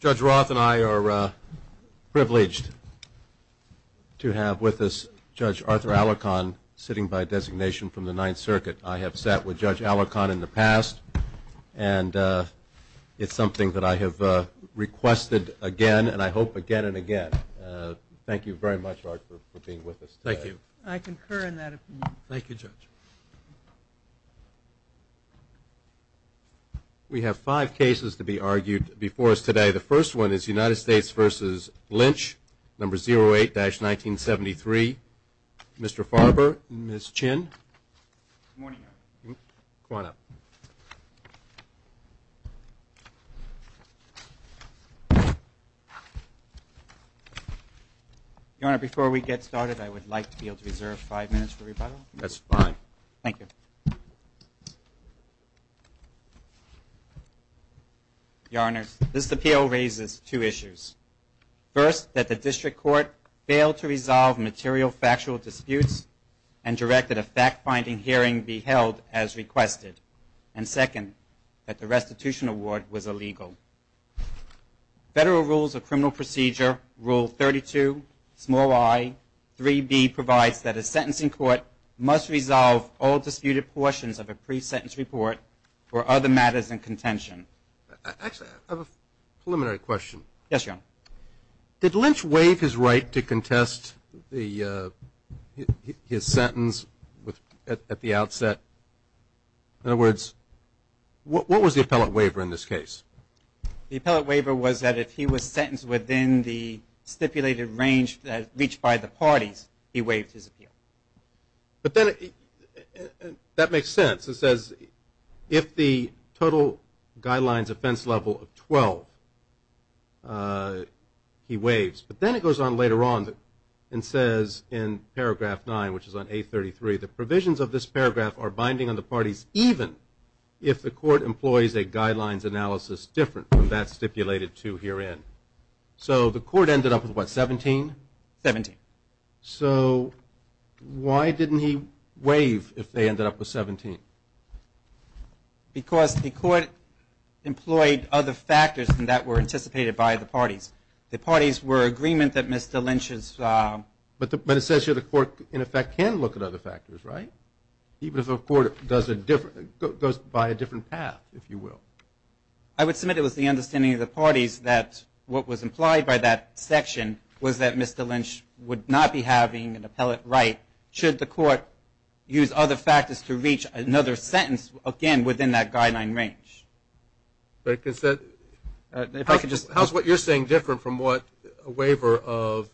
Judge Roth and I are privileged to have with us Judge Arthur Alarcon sitting by designation from the Ninth Circuit. I have sat with Judge Alarcon in the past and it's something that I have requested again and I hope again and again. Thank you very much for being with us. Thank you. I concur in that. Thank you judge. We have five cases to be argued before us today. The first one is United States v. Lynch, number 08-1973. Mr. Farber, Ms. Chin, go on up. Your Honor, before we get started I would like to be able to reserve five minutes for rebuttal. That's fine. Thank you. Your Honor, this appeal raises two issues. First, that the district court failed to resolve material factual disputes and direct that a fact-finding hearing be held as requested. And second, that the restitution award was illegal. Federal Rules of Criminal Procedure, Rule 32, small i, 3B provides that a sentencing court must resolve all disputed portions of a pre-sentence report for other matters in contention. Actually, I have a preliminary question. Yes, Your Honor. Did Lynch waive his right to contest his sentence at the outset? In other words, what was the appellate waiver in this case? The appellate waiver was that if he was sentenced within the stipulated range reached by the parties, he waived his appeal. But then, that makes sense. It says if the total guidelines offense level of 12, he waives. But then it goes on later on and says in paragraph 9, which is on 833, the provisions of this paragraph are binding on the parties even if the court employs a guidelines analysis different from that stipulated to 17? 17. So, why didn't he waive if they ended up with 17? Because the court employed other factors than that were anticipated by the parties. The parties were in agreement that Mr. Lynch's... But it says here the court, in effect, can look at other factors, right? Even if the court goes by a different path, if you will. I would submit it was the Mr. Lynch would not be having an appellate right should the court use other factors to reach another sentence, again, within that guideline range. How is what you're saying different from what a waiver of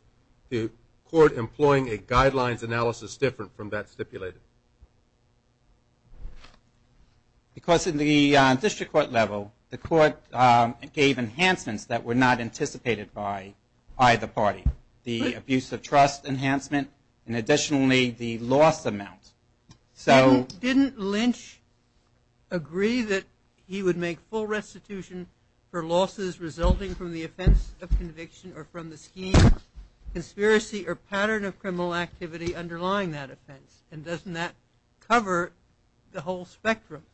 the court employing a guidelines analysis different from that stipulated? Because in the district court level, the court gave enhancements that were not anticipated by either party. The abuse of trust enhancement and additionally the loss amount. So... Didn't Lynch agree that he would make full restitution for losses resulting from the offense of conviction or from the scheme, conspiracy, or pattern of criminal activity underlying that offense? And doesn't that cover the whole spectrum?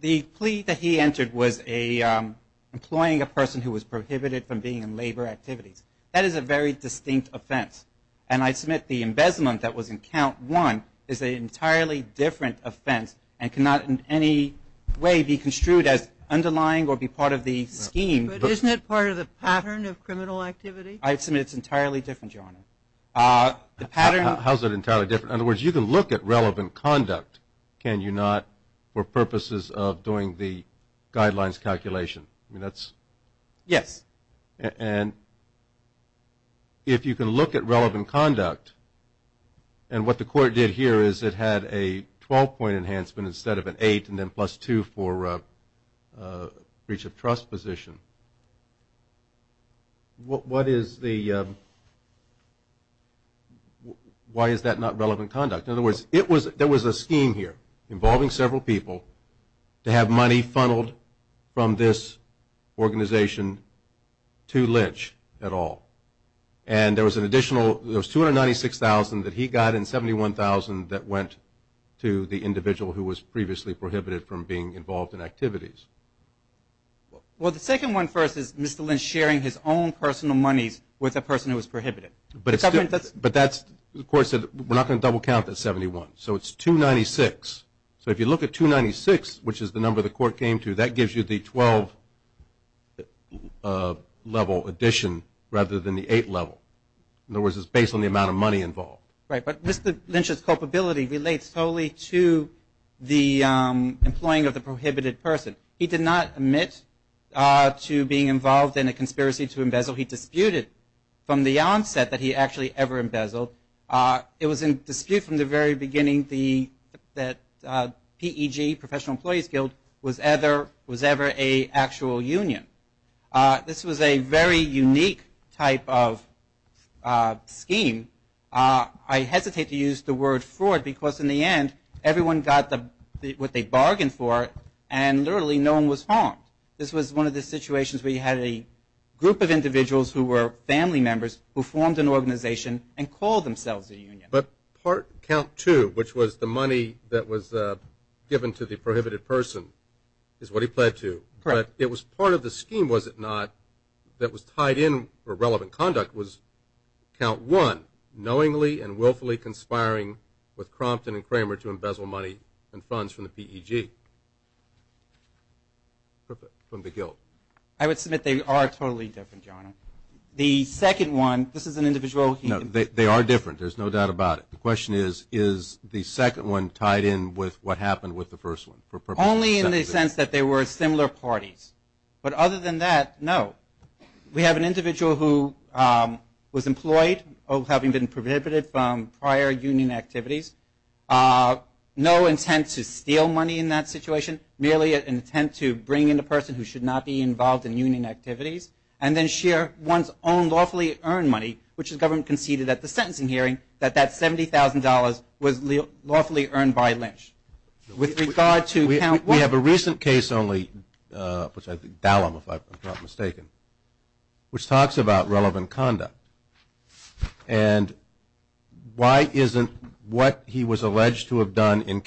The plea that he entered was employing a person who was prohibited from being in labor activities. That is a very distinct offense. And I submit the embezzlement that was in count one is an entirely different offense and cannot in any way be construed as underlying or be part of the scheme. But isn't it part of the pattern of criminal activity? I submit it's entirely different, Your Honor. How is it entirely different? In other words, you can look at purposes of doing the guidelines calculation. I mean, that's... Yes. And if you can look at relevant conduct, and what the court did here is it had a 12-point enhancement instead of an 8 and then plus 2 for breach of trust position. What is the... Why is that not relevant to have money funneled from this organization to Lynch at all? And there was an additional... There was $296,000 that he got and $71,000 that went to the individual who was previously prohibited from being involved in activities. Well, the second one first is Mr. Lynch sharing his own personal monies with a person who was prohibited. But it's... But that's... The double count is 71. So it's $296,000. So if you look at $296,000, which is the number the court came to, that gives you the 12-level addition rather than the 8-level. In other words, it's based on the amount of money involved. Right. But Mr. Lynch's culpability relates solely to the employing of the prohibited person. He did not admit to being involved in a conspiracy to embezzle. He disputed from the onset that he actually ever embezzled. It was in dispute from the very beginning that PEG, Professional Employees Guild, was ever an actual union. This was a very unique type of scheme. I hesitate to use the word fraud because in the end, everyone got what they bargained for and literally no one was harmed. This was one of the situations where you had a group of individuals who were family members who formed an organization and called themselves a union. But part... Count two, which was the money that was given to the prohibited person, is what he pled to. Correct. But it was part of the scheme, was it not, that was tied in for relevant conduct was count one, knowingly and willfully conspiring with Crompton and Kramer to embezzle money and funds from the PEG, from the guild. I would submit they are totally different, John. The second one, this is an individual... No, they are different. There's no doubt about it. The question is, is the second one tied in with what happened with the first one? Only in the sense that they were similar parties. But other than that, no. We have an individual who was employed, having been prohibited from prior union activities. No intent to steal money in that situation. Merely an intent to bring in a person who should not be involved in union activities and then share one's own lawfully earned money, which the government conceded at the sentencing hearing, that that $70,000 was lawfully earned by Lynch. With regard to count one... We have a recent case only, which I think, Dallum, if I'm not mistaken, which talks about relevant conduct. And why isn't what he was alleged to have done in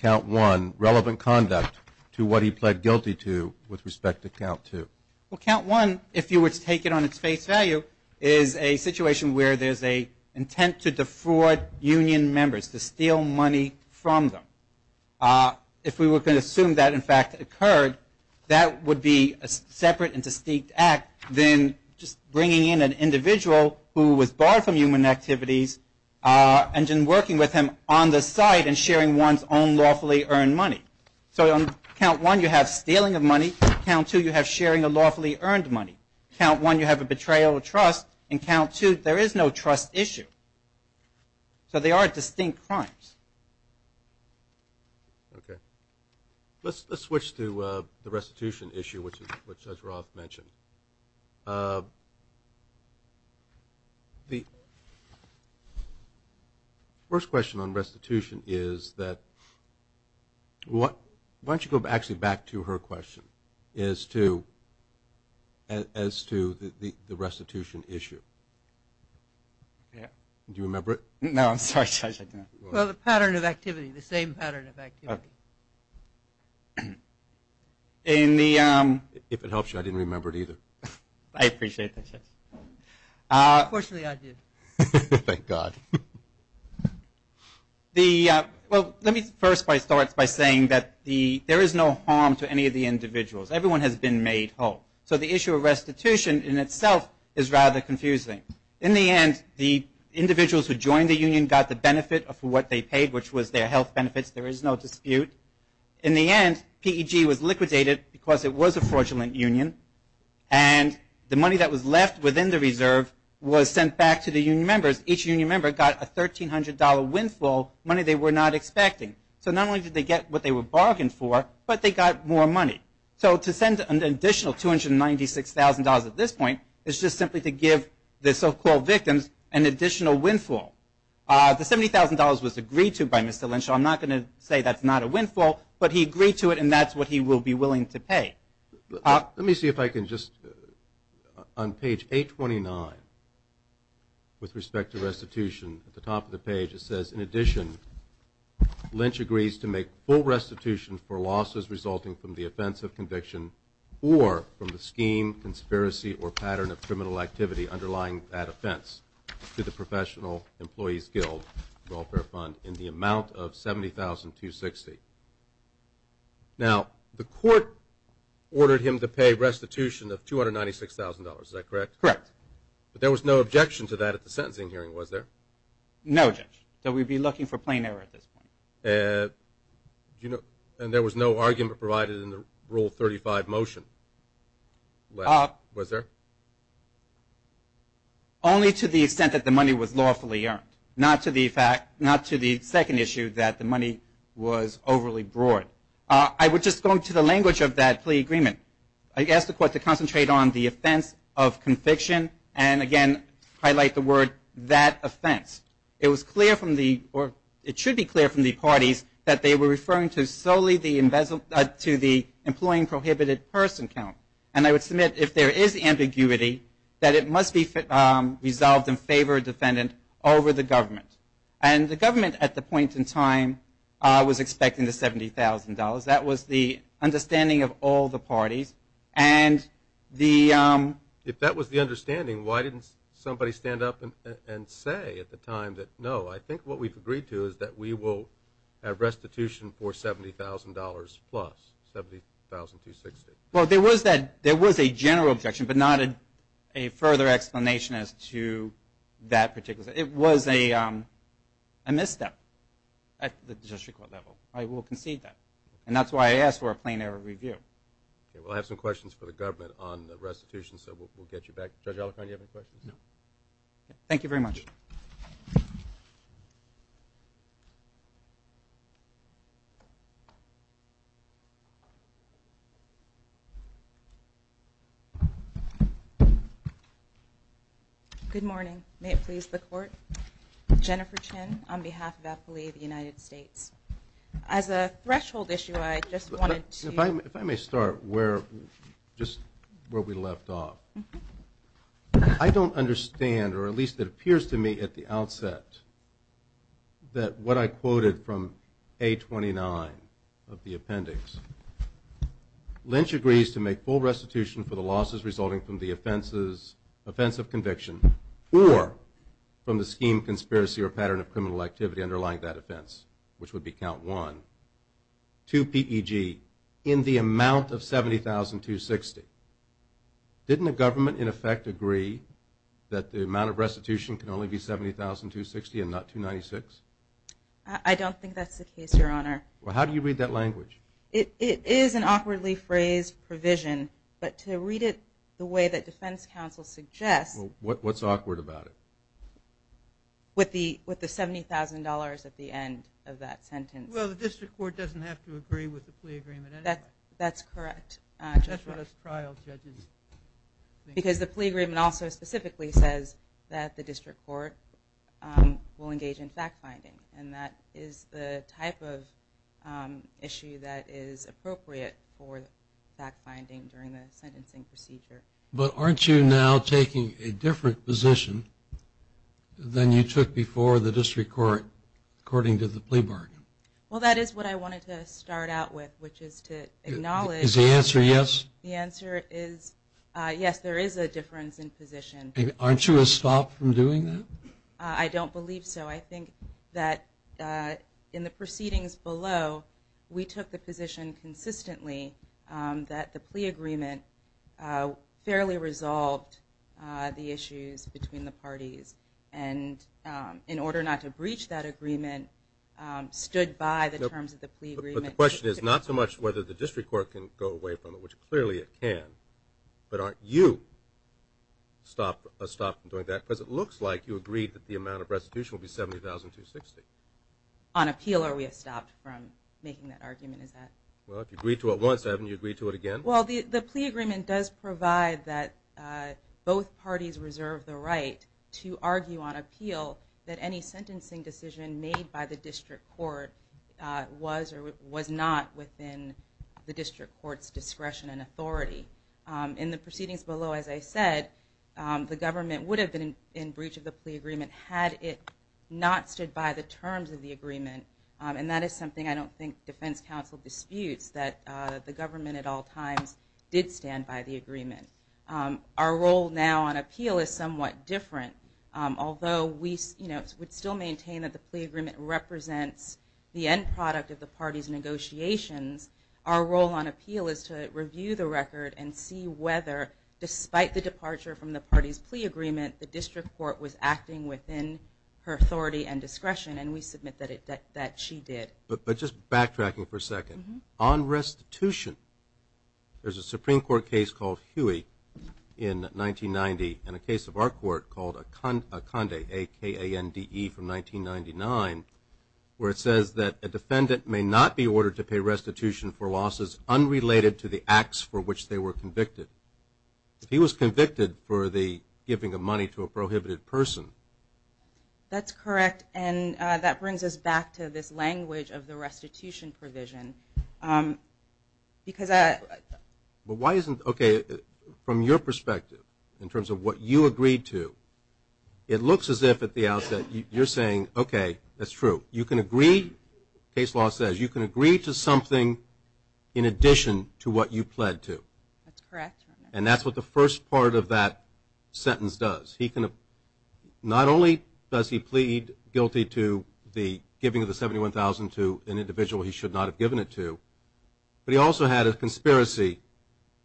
relevant conduct to what he pled guilty to with respect to count two? Well, count one, if you were to take it on its face value, is a situation where there's a intent to defraud union members, to steal money from them. If we were going to assume that, in fact, occurred, that would be a separate and distinct act than just bringing in an individual who was barred from union activities and then working with him on the side and sharing one's own lawfully earned money. So on count one, you have stealing of money. Count two, you have sharing of lawfully earned money. Count one, you have a betrayal of trust. And count two, there is no trust issue. So they are distinct crimes. Let's switch to the restitution issue, which Judge Roth mentioned. The first question on the board is that, why don't you go actually back to her question as to the restitution issue. Do you remember it? No, I'm sorry, Judge, I don't. Well, the pattern of activity, the same pattern of activity. If it helps you, I didn't remember it either. I appreciate that, Judge. Fortunately, I did. Thank God. Well, let me first start by saying that there is no harm to any of the individuals. Everyone has been made whole. So the issue of restitution in itself is rather confusing. In the end, the individuals who joined the union got the benefit of what they paid, which was their health benefits. There is no dispute. In the end, PEG was liquidated because it was a fraudulent union. And the money that was left within the reserve was sent back to the union members. Each union member got a $1,300 windfall, money they were not expecting. So not only did they get what they were bargained for, but they got more money. So to send an additional $296,000 at this point is just simply to give the so-called victims an additional windfall. The $70,000 was agreed to by Mr. Lynch. I'm not going to say that's not a windfall, but he agreed to it, and that's what he will be willing to pay. Let me see if I can just, on page 829, with respect to restitution, at the top of the page it says, in addition, Lynch agrees to make full restitution for losses resulting from the offense of conviction or from the scheme, conspiracy, or pattern of criminal activity underlying that offense to the Professional Employees Guild Welfare Fund in the amount of $70,260. Now, the court ordered him to pay restitution of $296,000. Is that correct? Correct. But there was no objection to that at the sentencing hearing, was there? No, Judge. So we'd be looking for plain error at this point. And there was no argument provided in the Rule 35 motion, was there? Only to the extent that the money was lawfully earned, not to the fact, not to the second issue that the money was overly broad. I would just go into the language of that plea agreement. I asked the court to concentrate on the offense of conviction, and again, highlight the word, that offense. It was clear from the, or it should be clear from the parties, that they were referring to solely the, to the Employee Prohibited Person Count. And I would submit, if there is ambiguity, that it must be resolved in favor of a defendant over the government. And the government, at the point in time, was expecting the $70,000. That was the understanding of all the parties. And the... If that was the understanding, why didn't somebody stand up and say at the time that, no, I think what we've agreed to is that we will have restitution for $70,000 plus, $70,260. Well, there was that, there was a general objection, but not a further explanation as to that particular, it was a misstep at the district court level. I will concede that. And that's why I asked for a plain error review. We'll have some questions for the government on the restitution, so we'll get you back. Judge Alicorn, do you have any questions? No. Thank you very much. Good morning. May it please the Court. Jennifer Chin, on behalf of APPLI, the United States. As a threshold issue, I just wanted to... If I may start where, just where we left off. I don't understand, or at least it appears to me at the outset, that what I quoted from A29 of the appendix, Lynch agrees to make full restitution for the losses resulting from the offenses, offense of conviction, or from the scheme, conspiracy, or pattern of criminal activity underlying that offense, which would be count one, to PEG, in the amount of $70,260. Didn't the government, in effect, agree that the amount of restitution can only be $70,260 and not $296? I don't think that's the case, Your Honor. Well, how do you read that language? It is an awkwardly phrased provision, but to read it the way that defense counsel suggests... Well, what's awkward about it? With the $70,000 at the end of that sentence. Well, the district court doesn't have to agree with the plea agreement anyway. That's correct. That's what us trial judges think. Because the plea agreement also specifically says that the district court will engage in fact-finding, and that is the type of issue that is appropriate for fact-finding during the sentencing procedure. But aren't you now taking a different position than you took before the district court, according to the plea bargain? Well, that is what I wanted to start out with, which is to acknowledge... Is the answer yes? The answer is yes, there is a difference in position. Aren't you a stop from doing that? I don't believe so. I think that in the proceedings below, we took the position consistently that the plea agreement fairly resolved the issues between the parties. And in order not to breach that agreement, stood by the terms of the plea agreement. But the question is not so much whether the district court can go away from it, which clearly it can, but aren't you a stop from doing that? Because it looks like you agreed that the amount of restitution will be $70,260. On appeal, or we have stopped from making that argument, is that...? Well, if you agreed to it once, haven't you agreed to it again? Well, the plea agreement does provide that both parties reserve the right to argue on appeal that any sentencing decision made by the district court was or was not within the district court's discretion and authority. In the proceedings below, as I said, the government would have been in breach of the plea agreement had it not stood by the terms of the agreement. And that is something I don't think defense counsel disputes, that the government at all times did stand by the agreement. Our role now on appeal is somewhat different. Although we would still maintain that the plea agreement represents the end product of the parties' negotiations, our role on appeal is to review the record and see whether, despite the departure from the parties' plea agreement, the district court was acting within her authority and discretion. And we submit that she did. But just backtracking for a second, on restitution, there's a Supreme Court case called Huey in 1990, and a case of our court called Akande, A-K-A-N-D-E, from 1999, where it says that a defendant may not be ordered to pay restitution for losses unrelated to the acts for which they were convicted. He was convicted for the giving of money to a prohibited person. That's correct. And that brings us back to this language of the restitution provision. Because... But why isn't... Okay, from your perspective, in terms of what you agreed to, it looks as if at the outset you're saying, okay, that's true. You can agree, case law says, you can agree to something in addition to what you pled to. That's correct. And that's what the first part of that sentence does. He can... Not only does he plead guilty to the giving of the $71,000 to an individual he should not have given it to, but he also had a conspiracy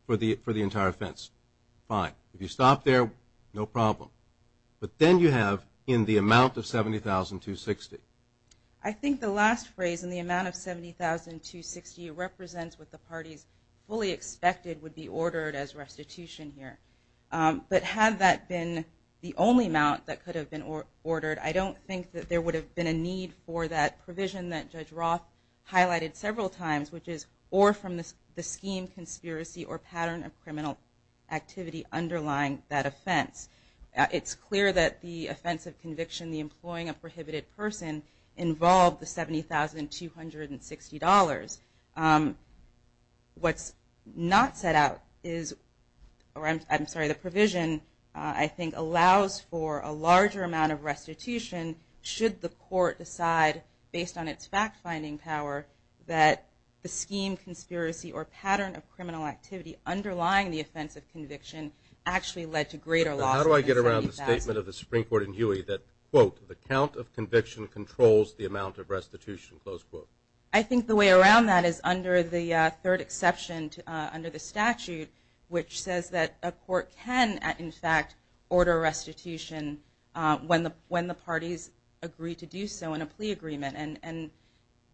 for the entire offense. Fine. If you stop there, no problem. But then you have, in the amount of $70,260. I think the last phrase, in the amount of $70,260, represents what the parties fully expected would be ordered as restitution here. But had that been the only amount that could have been ordered, I don't think that there would have been a need for that provision that Judge Roth highlighted several times, which is, or from the scheme, conspiracy, or pattern of criminal activity underlying that offense. It's clear that the offense of conviction, the employing of a prohibited person, involved the $70,260. What's not set out is, or I'm sorry, the provision I think allows for a larger amount of restitution should the court decide based on its fact-finding power that the scheme, conspiracy, or pattern of criminal activity underlying the offense of conviction actually led to greater loss How do I get around the statement of the Supreme Court in Huey that, quote, the count of conviction controls the amount of restitution? I think the way around that is under the third exception under the statute which says that a court can in fact order restitution when the parties agree to do so in a plea agreement. And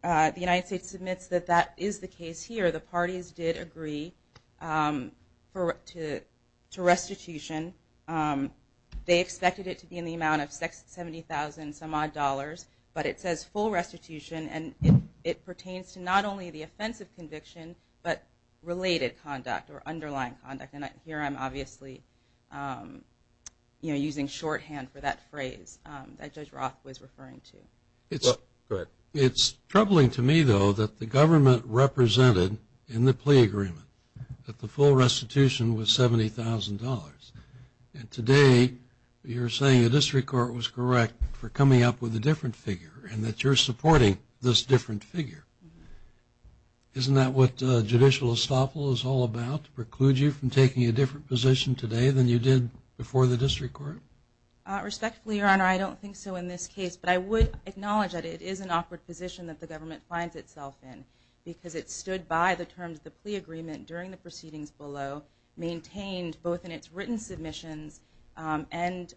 the United States submits that that is the case here. The parties did agree to restitution. They expected it to be in the amount of $70,000 some odd dollars but it says full restitution and it pertains to not only the offense of conviction but related conduct or underlying conduct. And here I'm obviously using shorthand for that phrase that Judge Roth was referring to. It's troubling to me though that the government represented in the plea agreement that the full restitution was $70,000. And today you're saying the district court was correct for coming up with a different figure and that you're supporting this different figure. Isn't that what judicial estoppel is all about? To preclude you from taking a different position today than you did before the district court? Respectfully, Your Honor, I don't think so in this case but I would acknowledge that it is an awkward position that the government finds itself in because it stood by the terms of the plea agreement during the proceedings below, maintained both in its written submissions and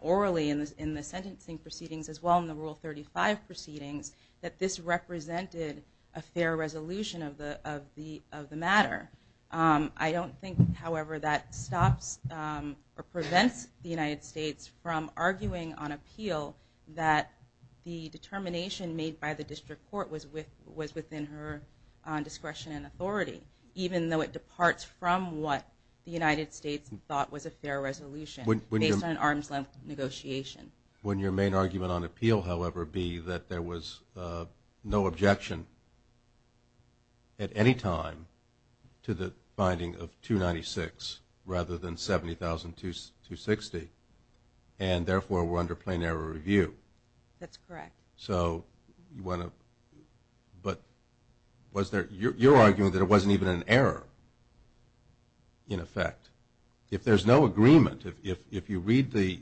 orally in the sentencing proceedings as well in the Rule 35 proceedings that this represented a fair resolution of the matter. I don't think, however, that stops or prevents the United States from arguing on appeal that the determination made by the district court was within her discretion and authority even though it departs from what the United States thought was a fair resolution based on an arm's-length negotiation. When your main argument on appeal, however, be that there was no objection at any time to the finding of $296,000 rather than $70,260 and therefore were under plain error review. That's correct. But you're arguing that it wasn't even an error in effect. If there's no agreement, if you read the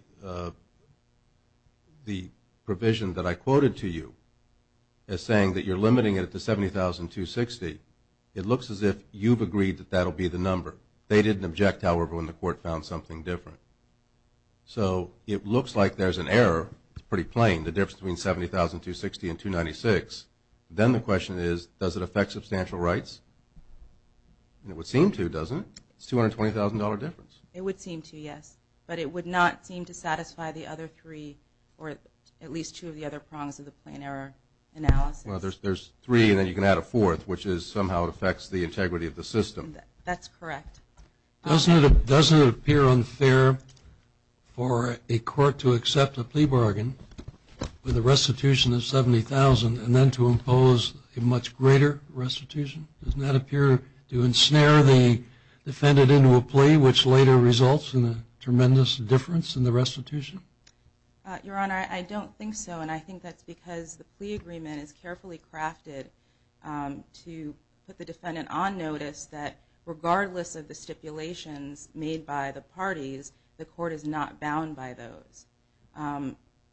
provision that I quoted to you as saying that you're limiting it to $70,260 it looks as if you've agreed that that was an error, however, when the court found something different. So it looks like there's an error. It's pretty plain, the difference between $70,260 and $296,000. Then the question is does it affect substantial rights? It would seem to, doesn't it? It's a $220,000 difference. It would seem to, yes. But it would not seem to satisfy the other three or at least two of the other prongs of the plain error analysis. Well, there's three and then you can add a fourth which is somehow it affects the integrity of the system. That's correct. Doesn't it appear unfair for a court to accept a plea bargain with a restitution of $70,000 and then to impose a much greater restitution? Doesn't that appear to ensnare the defendant into a plea which later results in a tremendous difference in the restitution? Your Honor, I don't think so and I think that's because the plea agreement is carefully crafted to put the defendant on notice that regardless of the stipulations made by the parties, the court is not bound by those.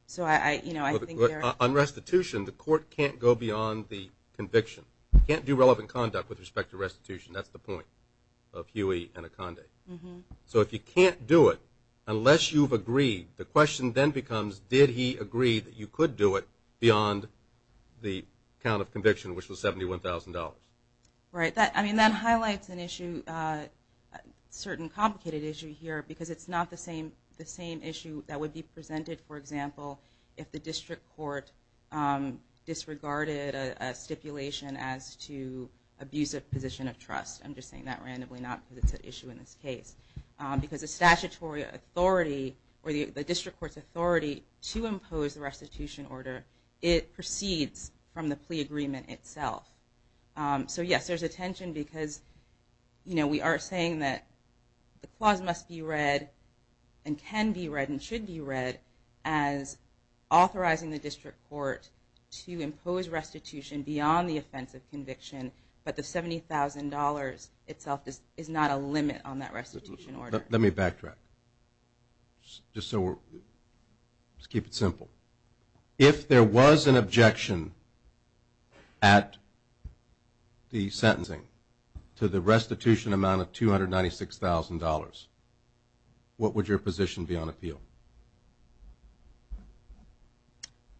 So I think On restitution, the court can't go beyond the conviction. Can't do relevant conduct with respect to restitution. That's the point of Huey and Akande. So if you can't do it, unless you've agreed, the question then becomes did he agree that you could do it beyond the count of conviction which was $71,000? Right. That highlights an issue a certain complicated issue here because it's not the same issue that would be presented for example if the district court disregarded a stipulation as to abuse of position of trust. I'm just saying that randomly not because it's an issue in this case. Because the statutory authority or the district court's authority to impose the restitution order, it proceeds from the plea agreement itself. So yes, there's a tension because we are saying that the clause must be read and can be read and should be read as authorizing the district court to impose restitution beyond the offense of conviction but the $70,000 itself is not a limit on that restitution order. Let me backtrack. Just so we're let's keep it simple. If there was an objection at the sentencing to the restitution amount of $296,000 what would your position be on appeal?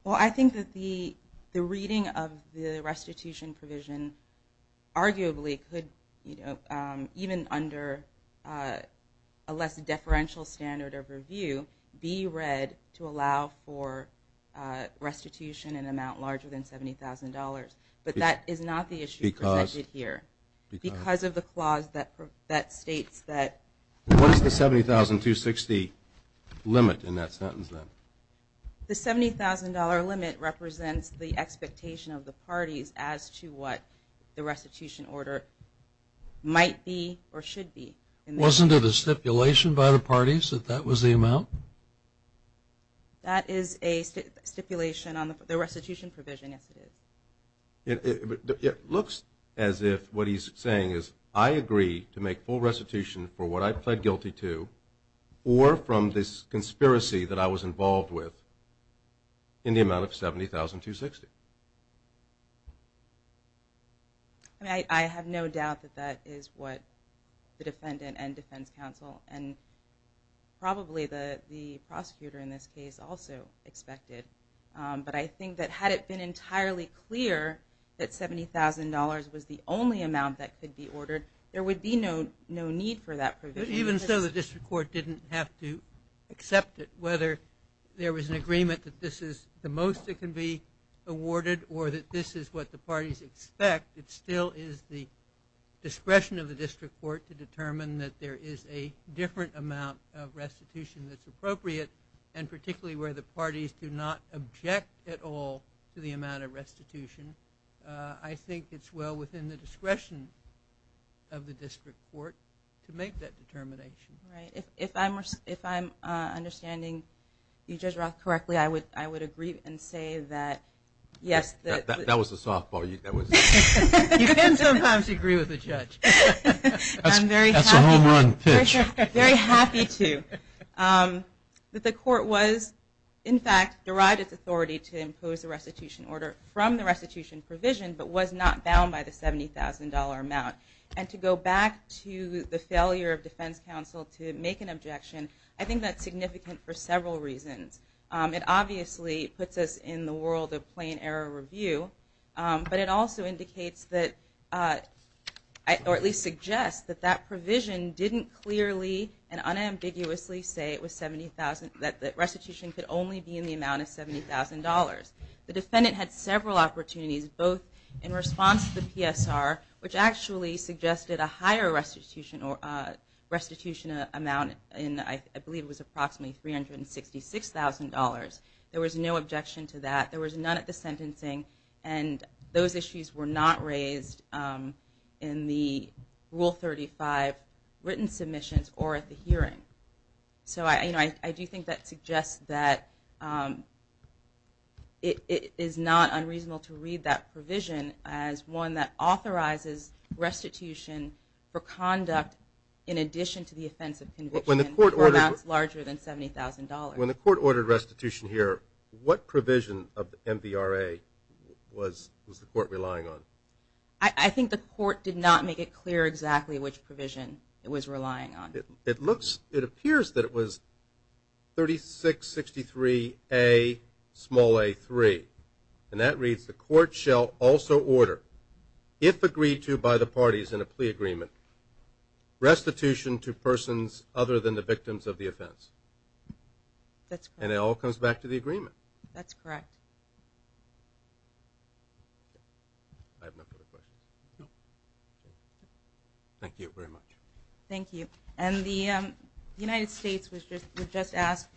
Well I think that the reading of the restitution provision arguably could even under a less deferential standard of review be read to allow for restitution in an amount larger than $70,000. But that is not the issue presented here. Because of the clause that states that What is the $70,260 limit in that sentence then? The $70,000 limit represents the expectation of the parties as to what the restitution order might be or should be. Wasn't it a stipulation by the parties that that was the amount? That is a stipulation on the restitution provision. Yes it is. It looks as if what he's saying is I agree to make full restitution for what I pled guilty to or from this conspiracy that I was involved with in the amount of $70,260. I have no doubt that that is what the defendant and defense counsel and probably the prosecutor in this case also expected. But I think that had it been entirely clear that $70,000 was the only amount that could be ordered, there would be no need for that provision. Even so the district court didn't have to accept it whether there was an agreement that this is the most it can be awarded or that this is what the parties expect. It still is the discretion of the district court to determine that there is a different amount of restitution that's appropriate and particularly where the parties do not object at all to the amount of restitution. I think it's well within the discretion of the district court to make that determination. If I'm understanding you Judge Roth correctly I would agree and say that yes That was a softball. You can sometimes agree with a judge. That's a home run pitch. I'm very happy to that the court was in fact derived its authority to impose a restitution order from the restitution provision but was not bound by the $70,000 amount. And to go back to the failure of defense counsel to make an objection I think that's significant for several reasons. It obviously puts us in the world of plain error review but it also indicates that or at least suggests that that provision didn't clearly and unambiguously say it was $70,000 that restitution could only be in the amount of $70,000. The defendant had several opportunities both in response to the PSR which actually suggested a higher restitution amount in I believe approximately $366,000. There was no objection to that. There was none at the sentencing and those issues were not raised in the Rule 35 written submissions or at the hearing. So I do think that suggests that it is not unreasonable to read that provision as one that authorizes restitution for conduct in addition to the offensive conviction for amounts larger than $70,000. When the court ordered restitution here, what provision of MVRA was the court relying on? I think the court did not make it clear exactly which provision it was relying on. It looks, it appears that it was 3663A small a 3 and that reads the court shall also order if agreed to by the parties in a plea agreement restitution to persons other than the victims of the offense. That's correct. And it all comes back to the agreement. That's correct. I have no further questions. No. Thank you very much. Thank you. And the United States would just ask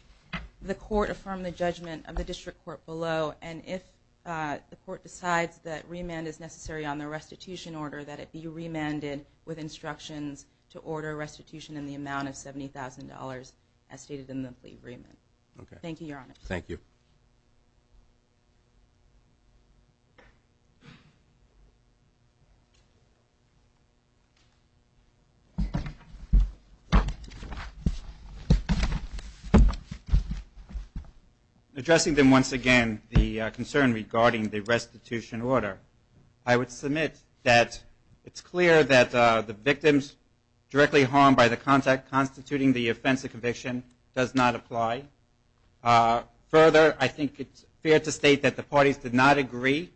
the court affirm the judgment of the District Court below and if the court decides that remand is necessary on the restitution order that it be remanded with instructions to order restitution in the amount of $70,000 as stated in the plea agreement. Thank you, Your Honor. Thank you. Addressing then once again the concern regarding the restitution order, I would submit that it's clear that the victims directly harmed by the contact constituting the offense or conviction does not apply. Further, I think it's fair to state that the parties did not agree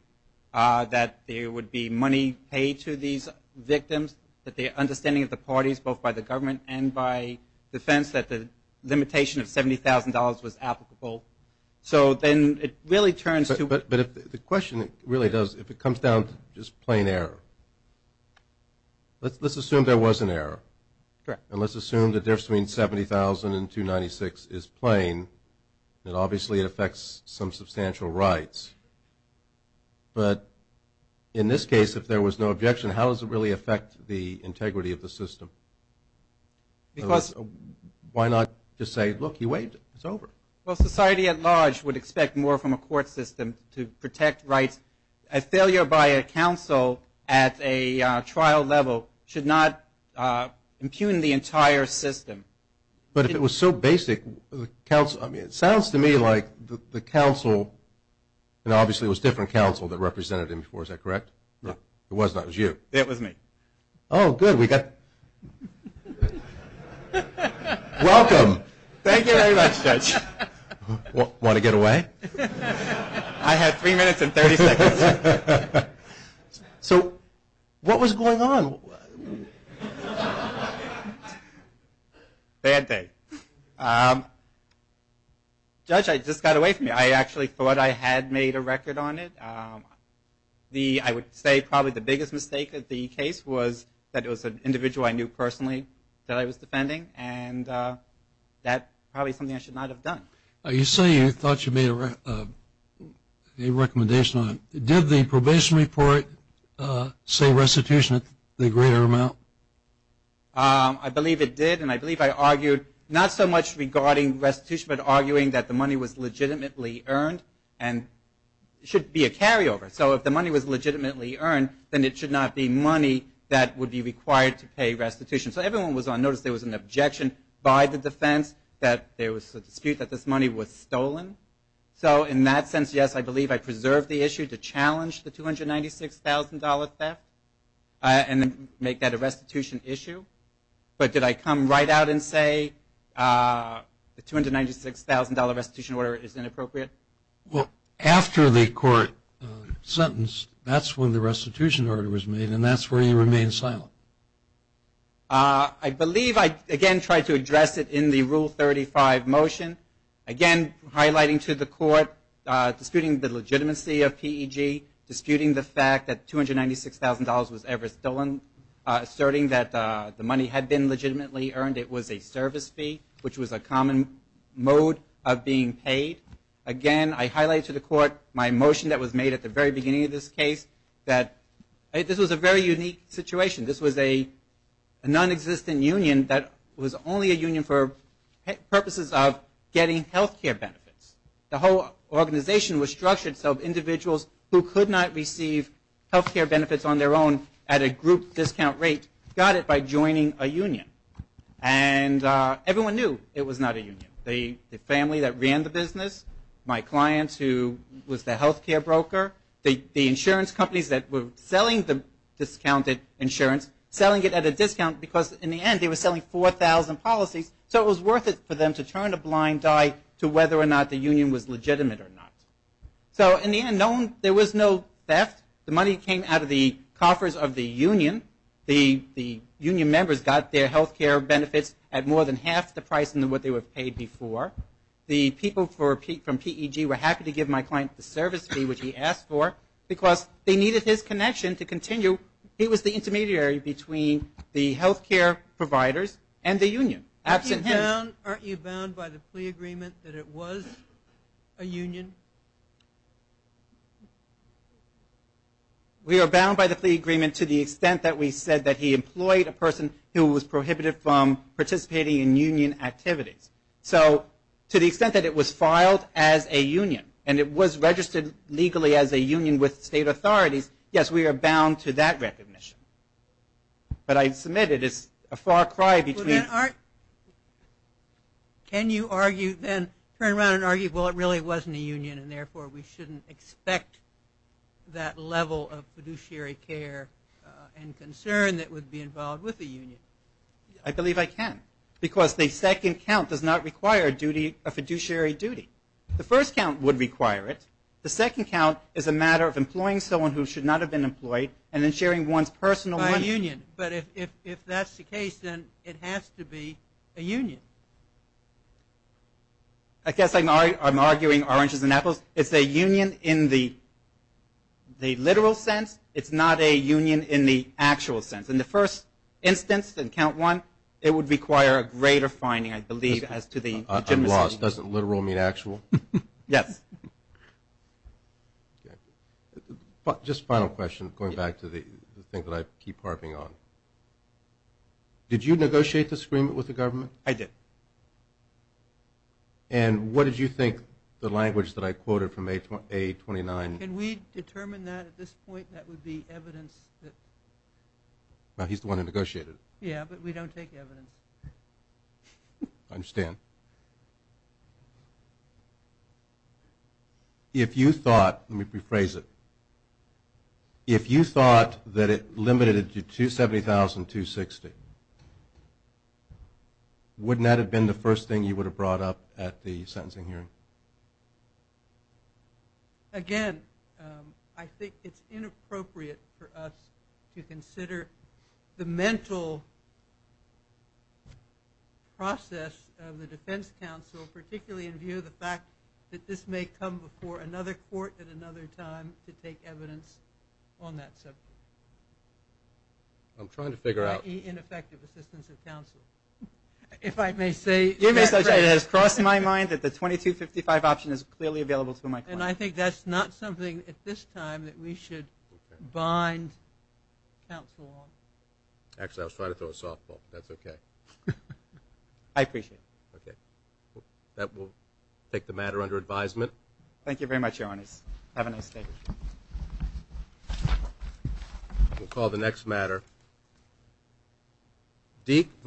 that there would be money paid to these victims that the understanding of the parties both by the government and by defense that the limitation of $70,000 was applicable. So then it really turns to But the question really does if it comes down to just plain error let's assume there was an error. And let's assume the difference between $70,000 and $296,000 is plain and obviously it affects some substantial rights. But in this case if there was no objection, how does it really affect the integrity of the system? Because Why not just say, look, you waived it. It's over. Well, society at large would expect more from a court system to protect rights. A failure by a counsel at a trial level should not impugn the entire system. But if it was so basic it sounds to me like the counsel and obviously it was different counsel that represented him before, is that correct? No. It was not. It was you. It was me. Oh, good. We got Welcome. Thank you very much, Judge. Want to get away? I had 3 minutes and 30 seconds. So, what was going on? Bad day. Judge, I just got away from you. I actually thought I had made a record on it. I would say probably the biggest mistake of the case was that it was an individual I knew personally that I was defending and that probably is something I should not have done. You say you thought you made a recommendation on it. Did the probation report say restitution at the greater amount? I believe it did and I believe I argued not so much regarding restitution but arguing that the money was legitimately earned and should be a carryover. So, if the money was legitimately earned then it should not be money that would be required to pay restitution. So, everyone was on notice there was an objection by the defense that there was a dispute that this money was stolen. So, in that sense, yes, I believe I preserved the issue to challenge the $296,000 theft and make that a restitution issue, but did I come right out and say the $296,000 restitution order is inappropriate? Well, after the court sentence, that's when the restitution order was made and that's where you remain silent. I believe I, again, tried to address it in the Rule 35 motion. Again, highlighting to the court, disputing the legitimacy of PEG, disputing the fact that $296,000 was ever stolen, asserting that the money had been legitimately earned it was a service fee, which was a common mode of being paid. Again, I highlight to the court my motion that was made at the very beginning of this case that this was a very unique situation. This was a non-existent union that was only a union for purposes of getting health care benefits. The whole organization was structured so individuals who could not receive health care benefits on their own at a group discount rate got it by joining a union. And everyone knew it was not a union. The family that ran the business, my clients who was the health care broker, the insurance companies that were selling the discounted insurance, selling it at a discount because in the end they were selling 4,000 policies so it was worth it for them to turn a blind eye to whether or not the union was legitimate or not. In the end, there was no theft. The money came out of the coffers of the union. The union members got their health care benefits at more than half the price of what they were paid before. The people from PEG were happy to give my client the service fee which he asked for because they needed his connection to continue. He was the intermediary between the health care providers and the union. Aren't you bound by the plea agreement that it was a union? We are bound by the plea agreement to the extent that we said that he employed a person who was prohibited from participating in union activities. So to the extent that it was filed as a union and it was registered legally as a union with state authorities, yes, we are bound to that recognition. But I submit it is a far cry between... Can you argue then, turn around and argue, well it really wasn't a union and therefore we shouldn't expect that level of fiduciary care and concern that would be involved with a union? I believe I can because the second count does not require a fiduciary duty. The first count would require it. The second count is a matter of employing someone who should not have been employed and then sharing one's personal... By a union. But if that's the case, then it has to be a union. I guess I'm arguing oranges and apples. It's a union in the literal sense. It's not a union in the actual sense. In the first instance, in count one, it would require a greater finding, I believe, as to the legitimacy. I'm lost. Does literal mean actual? Yes. Just a final question, going back to the thing that I keep harping on. Did you negotiate this agreement with the government? I did. And what did you think the language that I quoted from A29... Can we determine that at this point? That would be evidence that... He's the one who negotiated it. Yeah, but we don't take evidence. I understand. If you thought... Let me rephrase it. If you thought that it limited it to 270,000 260, wouldn't that have been the first thing you would have brought up at the sentencing hearing? Again, I think it's inappropriate for us to consider the mental process of the defense counsel particularly in view of the fact that this may come before another court at another time to take evidence on that subject. I'm trying to figure out... I.e. ineffective assistance of counsel. If I may say... It has crossed my mind that the 2255 option is clearly available to my client. And I think that's not something at this time that we should bind counsel on. Actually, I was trying to throw a softball. That's okay. I appreciate it. That will take the matter under advisement. Thank you very much, Your Honor. Have a nice day. We'll call the next matter.